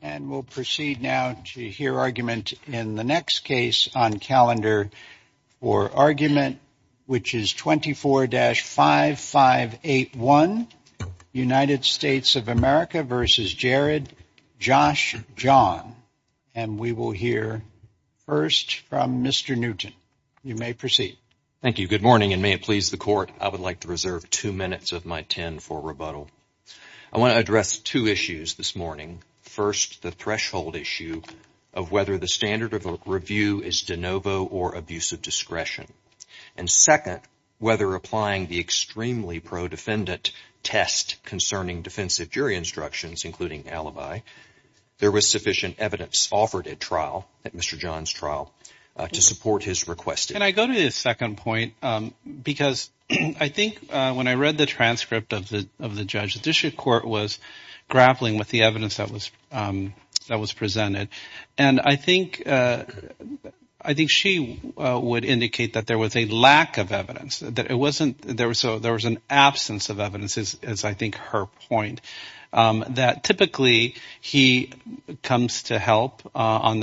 And we'll proceed now to hear argument in the next case on calendar for argument, which is 24-5581, United States of America v. Jared, Josh, John. And we will hear first from Mr. Newton. You may proceed. Thank you. Good morning, and may it please the Court, I would like to reserve two minutes of my 10 for rebuttal. I want to address two issues this morning. First, the threshold issue of whether the standard of review is de novo or abuse of discretion. And second, whether applying the extremely pro-defendant test concerning defensive jury instructions, including alibi. There was sufficient evidence offered at trial, at Mr. John's trial, to support his request. Can I go to the second point? Because I think when I read the transcript of the judge, the Judicial Court was grappling with the evidence that was presented. And I think she would indicate that there was a lack of evidence, that it wasn't, there was an absence of evidence, as I think her point, that typically he comes to help on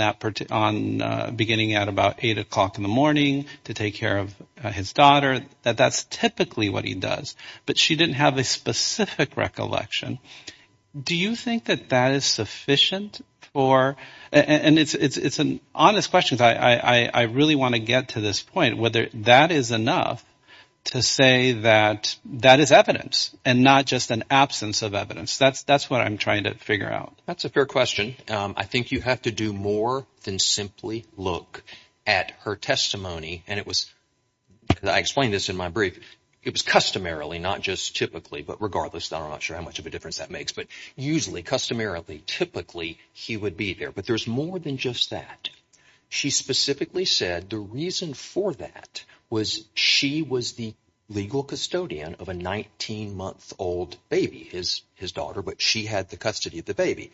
beginning at about 8 o'clock in the morning to take care of his daughter, that that's typically what he does. But she didn't have a specific recollection. Do you think that that is sufficient for, and it's an honest question, I really want to get to this point, whether that is enough to say that that is evidence and not just an absence of evidence? That's what I'm trying to figure out. That's a fair question. I think you have to do more than simply look at her testimony. And it was, I explained this in my brief, it was customarily, not just typically, but regardless, I'm not sure how much of a difference that makes, but usually customarily, typically he would be there. But there's more than just that. She specifically said the reason for that was she was the legal custodian of a 19-month-old baby, his daughter, but she had the custody of the baby.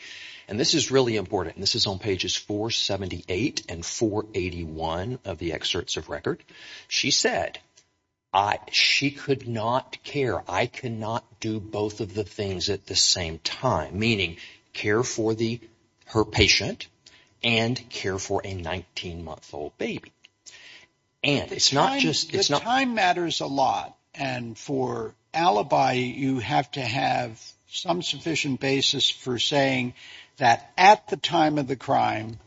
And this is really important. This is on pages 478 and 481 of the excerpts of record. She said, she could not care. I cannot do both of the things at the same time, meaning care for her patient and care for a 19-month-old baby. And it's not just... The time matters a lot. And for alibi, you have to have some sufficient basis for saying that at the time of the crime,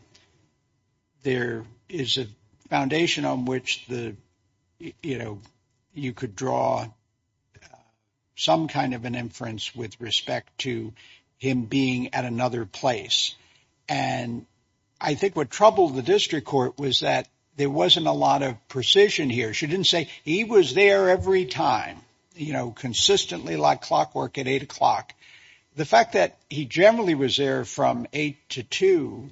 there is a foundation on which the, you know, to draw some kind of an inference with respect to him being at another place. And I think what troubled the district court was that there wasn't a lot of precision here. She didn't say he was there every time, you know, consistently like clockwork at 8 o'clock. The fact that he generally was there from 8 to 2,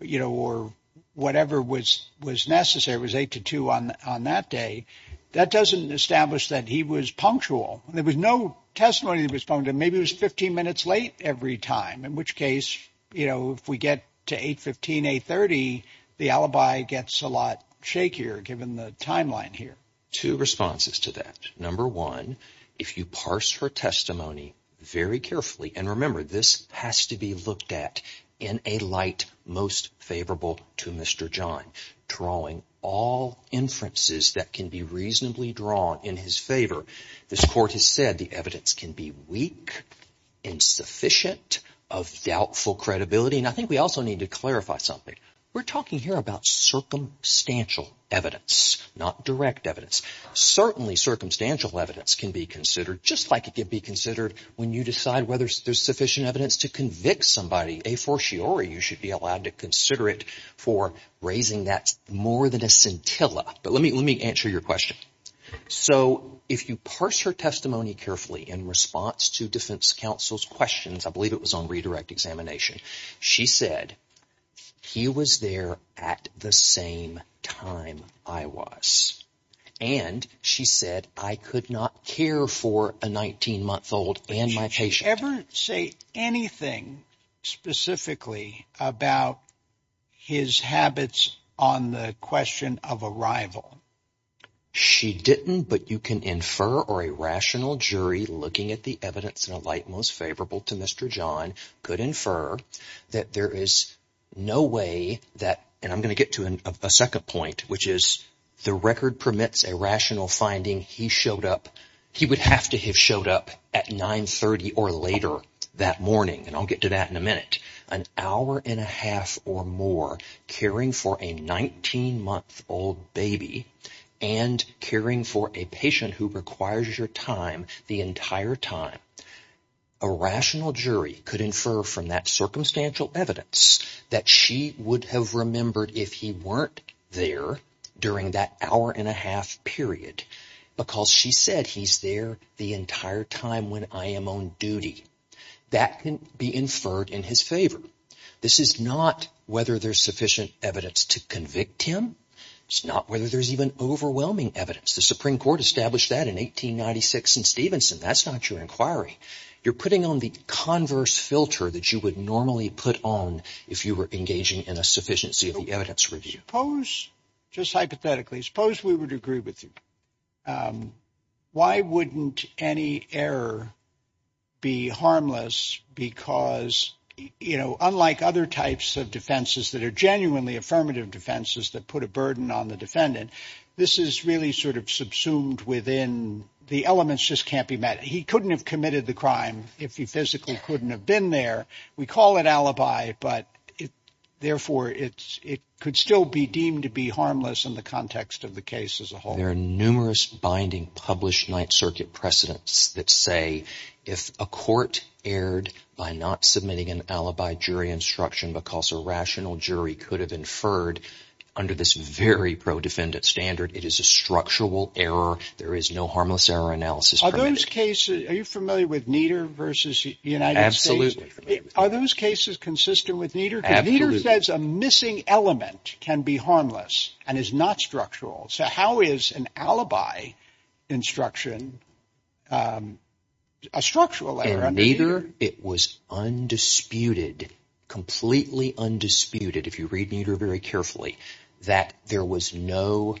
you know, or whatever was necessary, was 8 to 2 on that day. That doesn't establish that he was punctual. There was no testimony that was punctual. Maybe it was 15 minutes late every time, in which case, you know, if we get to 8.15, 8.30, the alibi gets a lot shakier given the timeline here. Two responses to that. Number one, if you parse her testimony very carefully, and remember, this has to be looked at in a light most favorable to Mr. John, drawing all inferences that can be reasonably drawn in his favor. This court has said the evidence can be weak and sufficient of doubtful credibility. And I think we also need to clarify something. We're talking here about circumstantial evidence, not direct evidence. Certainly, circumstantial evidence can be considered just like it can be considered when you decide whether there's sufficient evidence to convict somebody. A fortiori, you should be allowed to consider it for raising that more than a scintilla. But let me answer your question. So if you parse her testimony carefully in response to defense counsel's questions, I believe it was on redirect examination, she said, he was there at the same time I was. And she said, I could not care for a 19-month-old and my patient ever say anything specifically about his habits on the question of arrival. She didn't. But you can infer or a rational jury looking at the evidence in a light most favorable to Mr. John could infer that there is no way that. And I'm going to get to a second point, which is the record permits a rational finding. He showed up. He would have to have up at 930 or later that morning. And I'll get to that in a minute, an hour and a half or more caring for a 19-month-old baby and caring for a patient who requires your time the entire time. A rational jury could infer from that circumstantial evidence that she would have remembered if he weren't there during that hour and a half period, because she said he's there the entire time when I am on duty. That can be inferred in his favor. This is not whether there's sufficient evidence to convict him. It's not whether there's even overwhelming evidence. The Supreme Court established that in 1896 in Stevenson. That's not your inquiry. You're putting on the converse filter that you would normally put on if you were engaging in a sufficiency of the evidence review. Suppose just hypothetically, suppose we would agree with you. Why wouldn't any error be harmless? Because, you know, unlike other types of defenses that are genuinely affirmative defenses that put a burden on the defendant, this is really sort of subsumed within the elements just can't be met. He couldn't have committed the crime if he physically couldn't have been there. We call it alibi, but therefore it could still be deemed to be harmless in the context of the case as a whole. There are numerous binding published Ninth Circuit precedents that say if a court erred by not submitting an alibi jury instruction because a rational jury could have inferred under this very pro-defendant standard, it is a structural error. There is no harmless error analysis. Are those cases are you familiar with Nieder versus the United States? Absolutely. Are those cases consistent with Nieder? Nieder says a missing element can be harmless and is not structural. So how is an alibi instruction a structural error? Neither. It was undisputed, completely undisputed, if you read Nieder very carefully, that there was no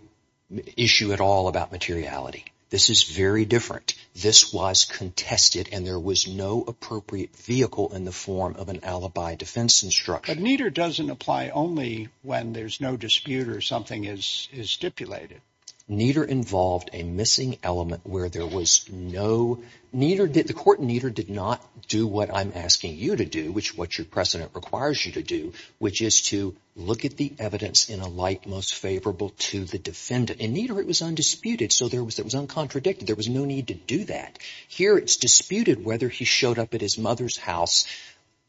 issue at all about materiality. This is very different. This was contested and there was no appropriate vehicle in the form of an alibi defense instruction. But Nieder doesn't apply only when there's no dispute or something is stipulated. Nieder involved a missing element where there was no, the court in Nieder did not do what I'm asking you to do, which what your precedent requires you to do, which is to look at the evidence in a light most favorable to the defendant. In Nieder it was undisputed, so there was uncontradicted, there was no need to do that. Here it's disputed whether he showed up at his mother's house.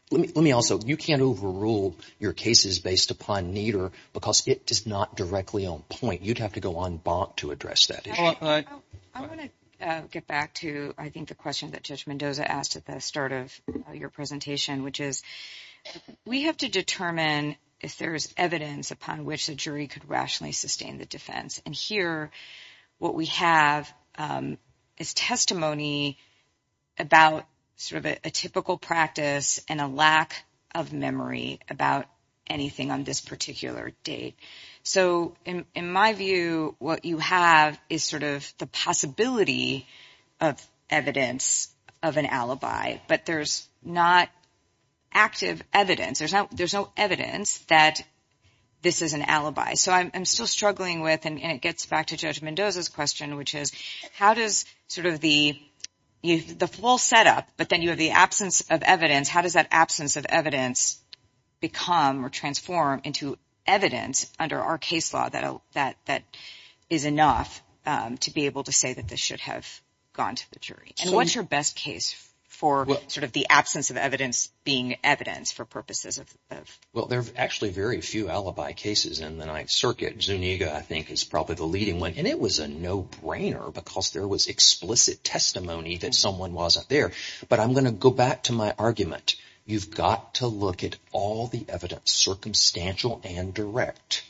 Let me also, you can't overrule your cases based upon Nieder because it does not directly on point. You'd have to go en banc to address that. I want to get back to I think the question that Judge Mendoza asked at the start of your presentation, which is we have to determine if there is evidence upon which the jury could rationally sustain the defense. And here what we have is testimony about sort of a typical practice and a lack of memory about anything on this particular date. So in my view, what you have is sort of the possibility of evidence of an alibi, but there's not active evidence. There's no evidence that this is an alibi. So I'm still struggling with, and it gets back to Judge Mendoza's question, which is how does sort of the full setup, but then you have the absence of evidence, how does that absence of evidence become or transform into evidence under our case law that is enough to be able to say that this should have gone to the jury? And what's your best case for sort of the absence of evidence being evidence for purposes of? Well, there are actually very few alibi cases in the Ninth Amendment. Omega, I think, is probably the leading one, and it was a no-brainer because there was explicit testimony that someone was up there. But I'm going to go back to my argument. You've got to look at all the evidence, circumstantial and direct.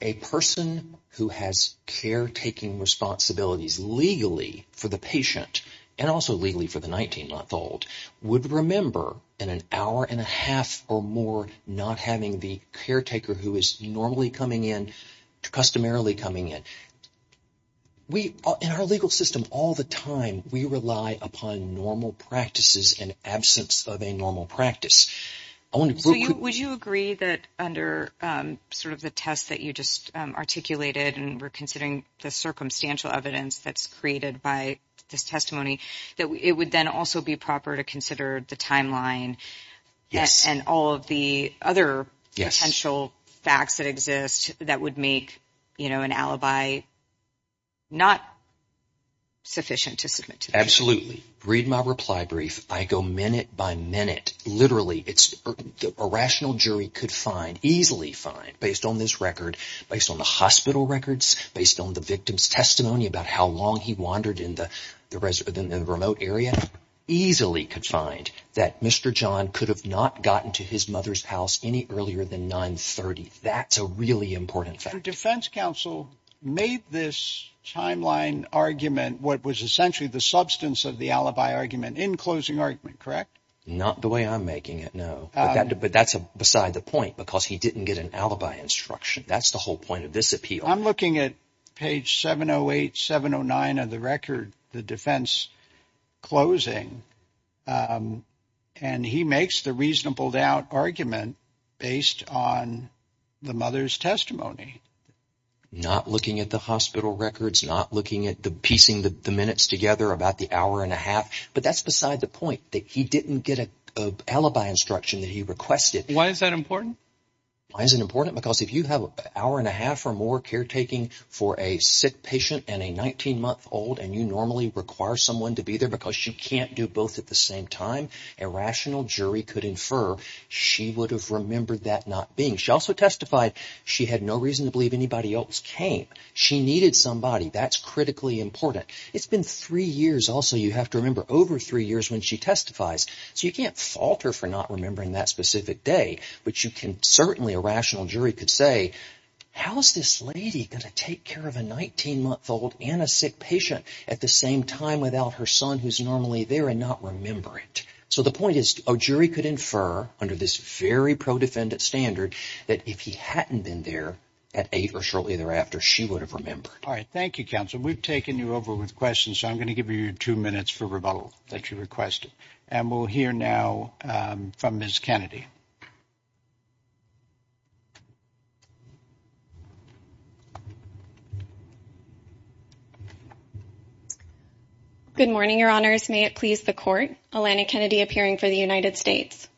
A person who has caretaking responsibilities legally for the patient and also legally for the 19-month-old would remember in an hour and a half or more not having the caretaker who is normally coming in, customarily coming in. In our legal system, all the time, we rely upon normal practices and absence of a normal practice. Would you agree that under sort of the test that you just articulated, and we're considering the circumstantial evidence that's created by this testimony, that it would then also be proper to consider the timeline and all of the other potential facts that exist that would make an alibi not sufficient to submit to the jury? Absolutely. Read my reply brief. I go minute by minute. Literally, a rational jury could find, easily find, based on this record, based on the hospital records, based on the victim's testimony about how long he wandered in the remote area, easily could find that Mr. John could have not gotten to his mother's house any earlier than 930. That's a really important fact. The defense counsel made this timeline argument what was essentially the substance of the alibi argument in closing argument, correct? Not the way I'm making it, no. But that's beside the point because he didn't get an alibi instruction. That's the And he makes the reasonable doubt argument based on the mother's testimony. Not looking at the hospital records, not looking at the piecing the minutes together about the hour and a half, but that's beside the point that he didn't get an alibi instruction that he requested. Why is that important? Why is it important? Because if you have an hour and a half or more caretaking for a sick patient and a 19-month-old and you normally require someone to be there because you can't do both at the same time, a rational jury could infer she would have remembered that not being. She also testified she had no reason to believe anybody else came. She needed somebody. That's critically important. It's been three years also, you have to remember, over three years when she testifies. So you can't fault her for not remembering that specific day, but you can certainly, a rational jury could say, how is this lady going to take care of a 19-month-old and a sick patient at the same time without her son who's normally there and not remember it? So the point is, a jury could infer, under this very pro-defendant standard, that if he hadn't been there at eight or shortly thereafter, she would have remembered. All right, thank you, counsel. We've taken you over with questions, so I'm going to give you two minutes for rebuttal that you requested, and we'll hear now from Ms. Kennedy. Good morning, Your Honors. May it please the Court, Alana Kennedy appearing for the United States.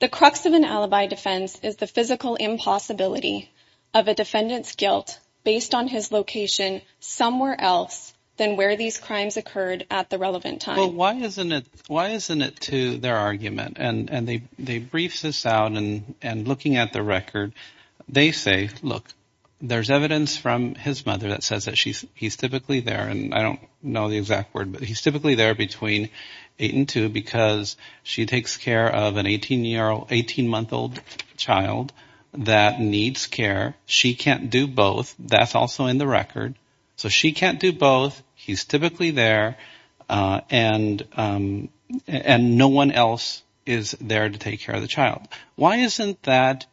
The crux of an alibi defense is the physical impossibility of a defendant's guilt based on location somewhere else than where these crimes occurred at the relevant time. Well, why isn't it to their argument? And they briefed this out, and looking at the record, they say, look, there's evidence from his mother that says that he's typically there, and I don't know the exact word, but he's typically there between eight and two because she takes care of an 18-month-old child that needs care. She can't do both. That's also in the record. So she can't do both. He's typically there, and no one else is there to take care of the child. Why isn't that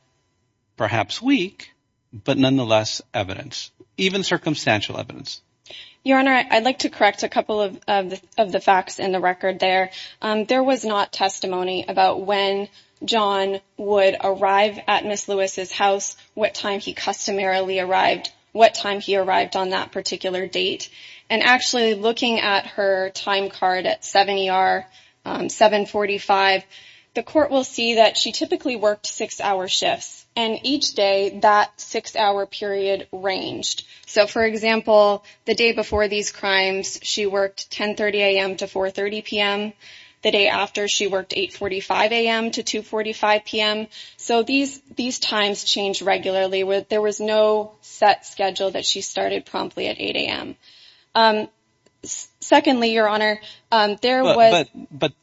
perhaps weak, but nonetheless evidence, even circumstantial evidence? Your Honor, I'd like to correct a couple of the facts in the record there. There was not about when John would arrive at Ms. Lewis's house, what time he customarily arrived, what time he arrived on that particular date. And actually, looking at her time card at 7 ER, 745, the Court will see that she typically worked six-hour shifts, and each day, that six-hour period ranged. So, for example, the day before these crimes, she worked 10.30 a.m. to 4.30 p.m. The day after, she worked 8.45 a.m. to 2.45 p.m. So these times change regularly. There was no set schedule that she started promptly at 8 a.m. Secondly, Your Honor, there was... But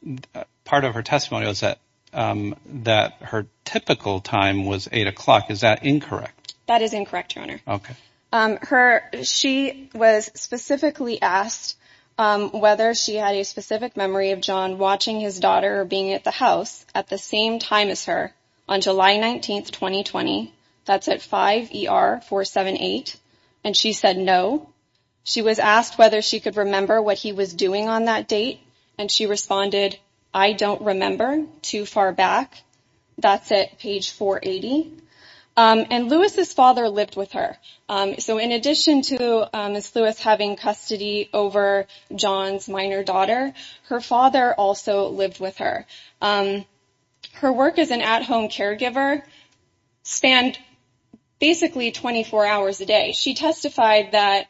part of her testimony was that her typical time was eight o'clock. Is that incorrect? That is incorrect, Your Honor. Okay. She was specifically asked whether she had a specific memory of John watching his daughter being at the house at the same time as her on July 19, 2020. That's at 5 ER, 478. And she said no. She was asked whether she could remember what he was doing on that date. And she responded, I don't remember too far back. That's at page 480. And Lewis's father lived with her. So in addition to Ms. Lewis having custody over John's minor daughter, her father also lived with her. Her work as an at-home caregiver spanned basically 24 hours a day. She testified that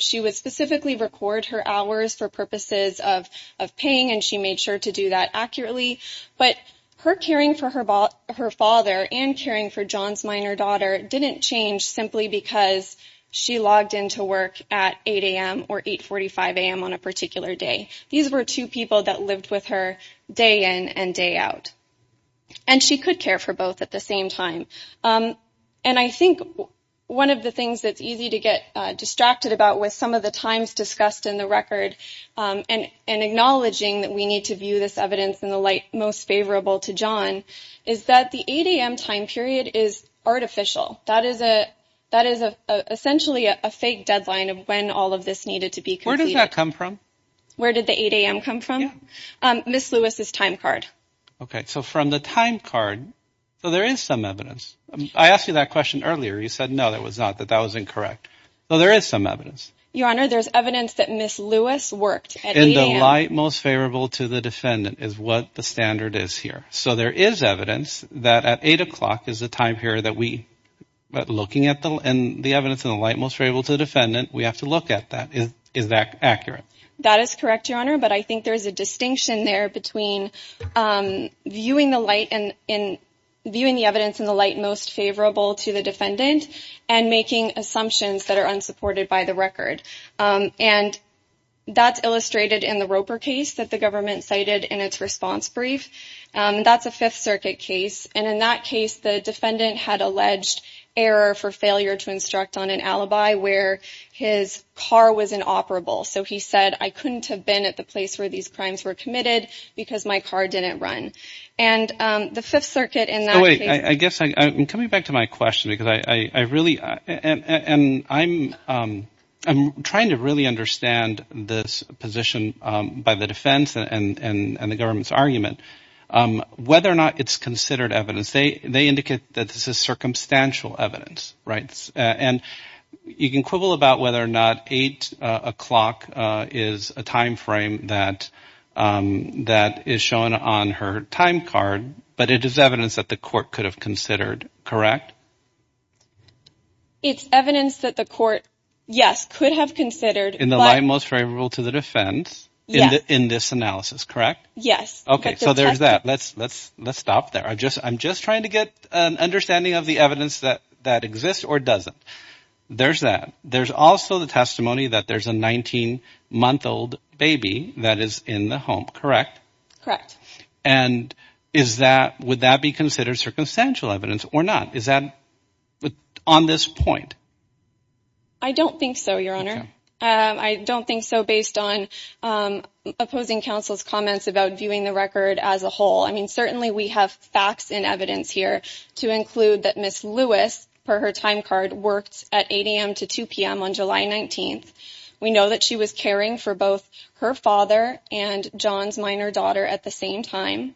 she would specifically record her hours for purposes of paying, and she made sure to do that accurately. But her caring for her father and caring for John's minor daughter didn't change simply because she logged into work at 8 a.m. or 8.45 a.m. on a particular day. These were two people that lived with her day in and day out. And she could care for both at the same time. And I think one of the things that's easy to get distracted about with some of the times discussed in the record and acknowledging that we need to do this evidence in the light most favorable to John is that the 8 a.m. time period is artificial. That is essentially a fake deadline of when all of this needed to be completed. Where does that come from? Where did the 8 a.m. come from? Ms. Lewis's time card. Okay, so from the time card, so there is some evidence. I asked you that question earlier. You said no, that was not, that that was incorrect. So there is some evidence. Your Honor, there's evidence that Ms. Lewis worked at 8 a.m. Most favorable to the defendant is what the standard is here. So there is evidence that at 8 o'clock is the time period that we, but looking at the and the evidence in the light most favorable to the defendant, we have to look at that. Is that accurate? That is correct, Your Honor. But I think there's a distinction there between viewing the light and in viewing the evidence in the light most favorable to the defendant and making assumptions that are unsupported by the record. And that's illustrated in the Roper case that the government cited in its response brief. That's a Fifth Circuit case. And in that case, the defendant had alleged error for failure to instruct on an alibi, where his car was inoperable. So he said, I couldn't have been at the place where these crimes were committed because my car didn't run. And the Fifth Circuit in that way, I guess I'm coming back to my question because I really, and I'm trying to really understand this position by the defense and the government's argument, whether or not it's considered evidence. They indicate that this is circumstantial evidence, right? And you can quibble about whether or not 8 o'clock is a time frame that is shown on her time card, but it is evidence that the court could have considered. Correct? It's evidence that the court, yes, could have considered. In the light most favorable to the defense in this analysis, correct? Yes. Okay, so there's that. Let's stop there. I'm just trying to get an understanding of the evidence that exists or doesn't. There's that. There's also the testimony that there's a 19-month-old baby that is in the home, correct? Correct. And would that be considered circumstantial evidence or not? Is that on this point? I don't think so, Your Honor. I don't think so based on opposing counsel's comments about viewing the record as a whole. I mean, certainly we have facts and evidence here to include that Ms. Lewis, per her time card, worked at 8 a.m. to 2 p.m. on July 19th. We know that she was caring for both her father and John's minor daughter at the same time.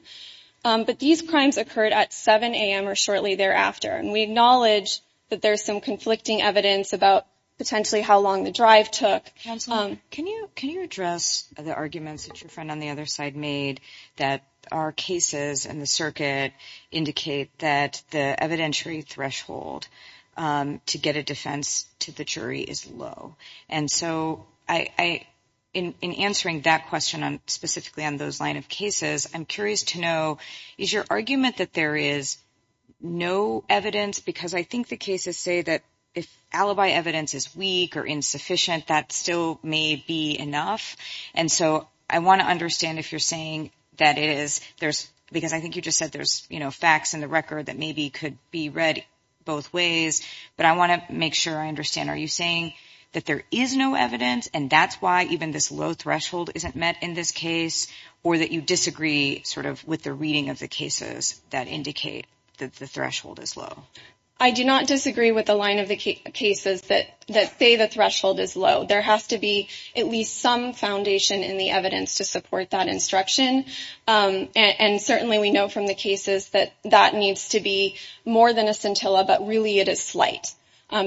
But these crimes occurred at 7 a.m. or shortly thereafter. And we acknowledge that there's some conflicting evidence about potentially how long the drive took. Counsel, can you address the arguments that your friend on the other side made that our cases and the circuit indicate that the evidentiary threshold to get a defense to the jury is low? And so in answering that question specifically on those line of cases, I'm curious to know, is your argument that there is no evidence? Because I think the cases say that if alibi evidence is weak or insufficient, that still may be enough. And so I want to understand if you're saying that it is. Because I think you just said there's facts in the record that maybe could be read both ways. But I want to make sure I understand. Are you saying that there is no evidence, and that's why even this low threshold isn't met in this case? Or that you disagree sort of with the reading of the cases that indicate that the threshold is low? I do not disagree with the line of the cases that say the threshold is low. There has to be at least some foundation in the evidence to support that instruction. And certainly we know from the cases that that needs to be more than a scintilla, but really it is slight.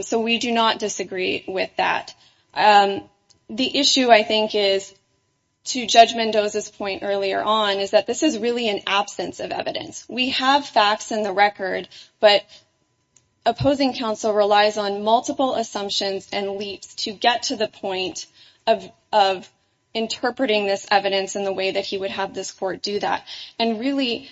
So we do not disagree with that. The issue I think is, to Judge Mendoza's point earlier on, is that this is really an absence of evidence. We have facts in the record, but opposing counsel relies on multiple assumptions and leaps to get to the point of interpreting this evidence in the way that he would have this court do that. And really,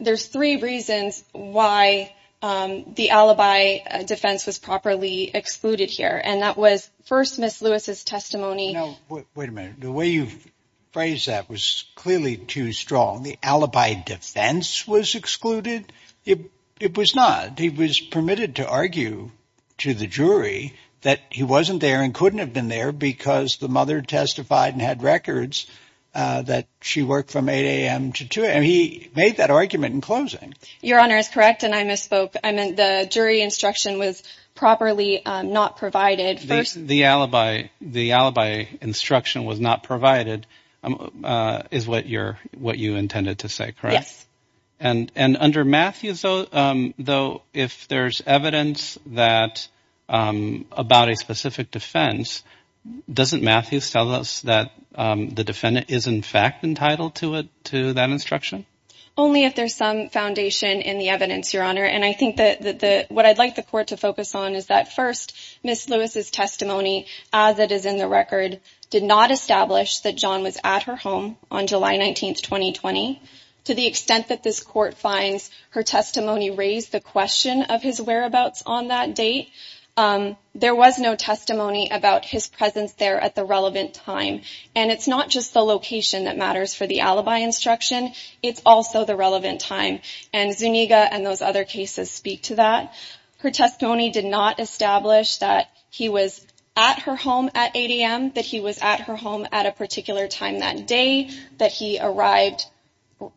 there's three reasons why the alibi defense was properly excluded here. And that was, first, Ms. Lewis's testimony. Now, wait a minute. The way you've phrased that was clearly too strong. The alibi defense was excluded? It was not. He was permitted to argue to the jury that he wasn't there and couldn't have been there because the mother testified and had records that she worked from 8 a.m. to 2 a.m. He made that argument in closing. Your Honor is correct, and I misspoke. I meant the jury instruction was properly not provided. First, the alibi instruction was not provided is what you intended to say, correct? Yes. And under Matthews, though, if there's evidence about a specific defense, doesn't Matthews tell us that the defendant is, in fact, entitled to that instruction? Only if there's some foundation in the evidence, Your Honor. And I think that what I'd like the court to focus on is that, first, Ms. Lewis's testimony, as it is in the record, did not establish that John was at her home on July 19, 2020. To the extent that this court finds her testimony raised the question of his whereabouts on that date, there was no testimony about his presence there at the relevant time. And it's not just the location that matters for the alibi instruction. It's also the relevant time. And Zuniga and those other cases speak to that. Her testimony did not establish that he was at her home at 8 a.m., that he was at her home at a particular time that day, that he arrived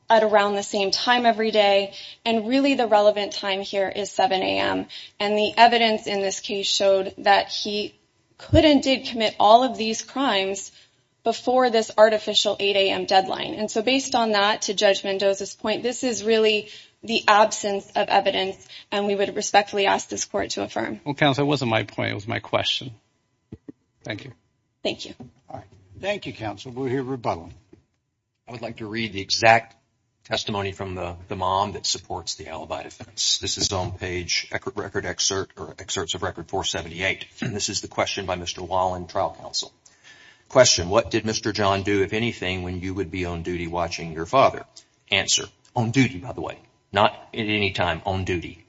at around the same time every day. And really, the relevant time here is 7 a.m. And the evidence in this case showed that he could and did commit all of these crimes before this artificial 8 a.m. deadline. And so based on that, to Judge Mendoza's point, this is really the absence of evidence. And we would respectfully ask this court to affirm. Well, counsel, it wasn't my point. It was my question. Thank you. Thank you. All right. Thank you, counsel. We'll hear rebuttal. I would like to read the exact testimony from the mom that supports the alibi defense. This is on page record excerpt or excerpts of record 478. This is the question by Mr. Wallen, trial counsel. Question. What did Mr. John do, if anything, when you would be on duty watching your father? Answer. On duty, by the way. Not at any time. On duty.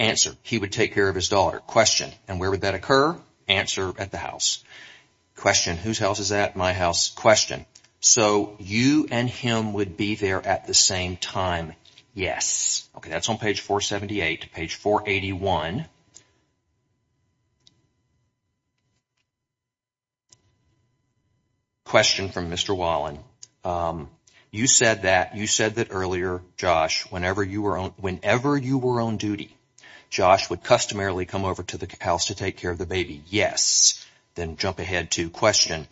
Answer. He would take care of his daughter. Question. And where would that occur? Answer. At the house. Question. Whose house is that? My house. Question. So you and him would be there at the same time? Yes. Okay. That's on page 478. Page 481. Question from Mr. Wallen. You said that earlier, Josh, whenever you were on duty, Josh would customarily come over to the house to take care of the baby. Yes. Then jump ahead to question.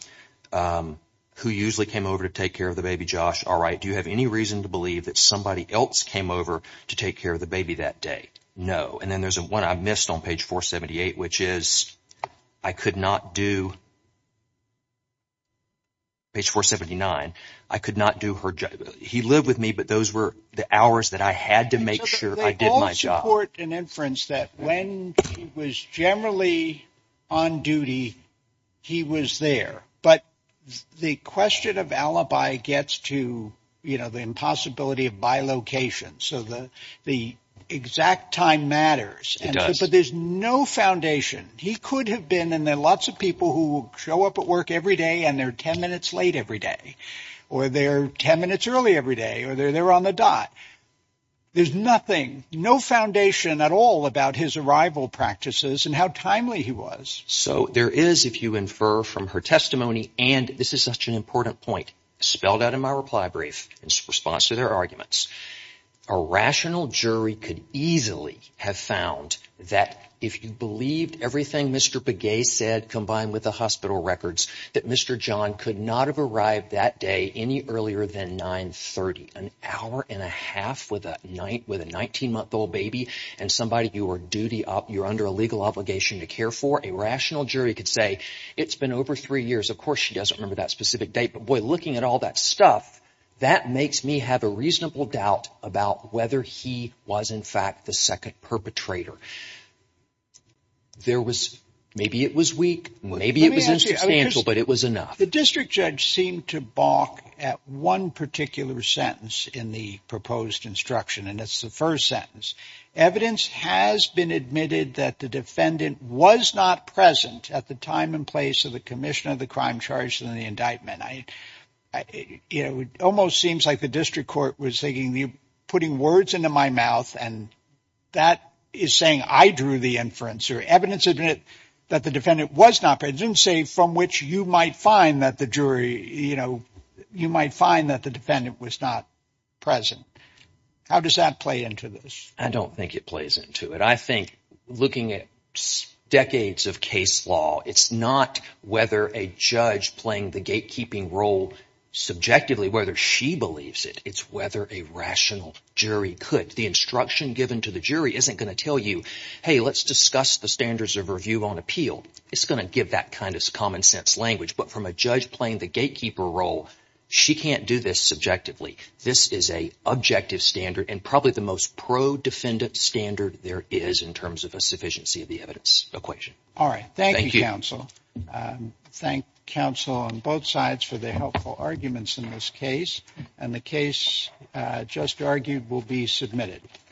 Who usually came over to take care of the baby, Josh? All right. Do you have any reason to believe that somebody else came over to take care of the baby that day? No. And then there's one I missed on page 478, which is I could not do. Page 479. I could not do her job. He lived with me, but those were the hours that I had to make sure I did my job. They all support an inference that when he was generally on duty, he was there. But the question of alibi gets to the impossibility of by location. So the exact time matters. But there's no foundation. He could have been in there. Lots of people who show up at work every day and they're 10 minutes late every day or they're 10 minutes early every day or they're there on the dot. There's nothing, no foundation at all about his arrival practices and how timely he was. So there is, if you infer from her testimony, and this is such an important point spelled out in my reply brief in response to their arguments, a rational jury could easily have found that if you believed everything Mr. Pagay said combined with the hospital records, that Mr. John could not have arrived that day any earlier than 930, an hour and a half with a 19-month-old baby and you were under a legal obligation to care for. A rational jury could say it's been over three years. Of course, she doesn't remember that specific date. But boy, looking at all that stuff, that makes me have a reasonable doubt about whether he was in fact the second perpetrator. Maybe it was weak. Maybe it was substantial. But it was enough. The district judge seemed to balk at one particular sentence in the proposed instruction, and it's the first sentence. Evidence has been admitted that the defendant was not present at the time and place of the commission of the crime charged in the indictment. Almost seems like the district court was putting words into my mouth and that is saying I drew the inference. Evidence admitted that the defendant was not present, didn't say from which you might find that the jury, you know, you might find that the defendant was not present. How does that play into this? I don't think it plays into it. I think looking at decades of case law, it's not whether a judge playing the gatekeeping role subjectively, whether she believes it, it's whether a rational jury could. The instruction given to the jury isn't going to tell you, hey, let's discuss the standards of review on appeal. It's going to give that kind of common sense language. But from a judge playing the gatekeeper role, she can't do this subjectively. This is a objective standard and probably the most pro-defendant standard there is in terms of a sufficiency of the evidence equation. All right. Thank you, counsel. Thank counsel on both sides for the helpful arguments in this case. And the case just argued will be submitted.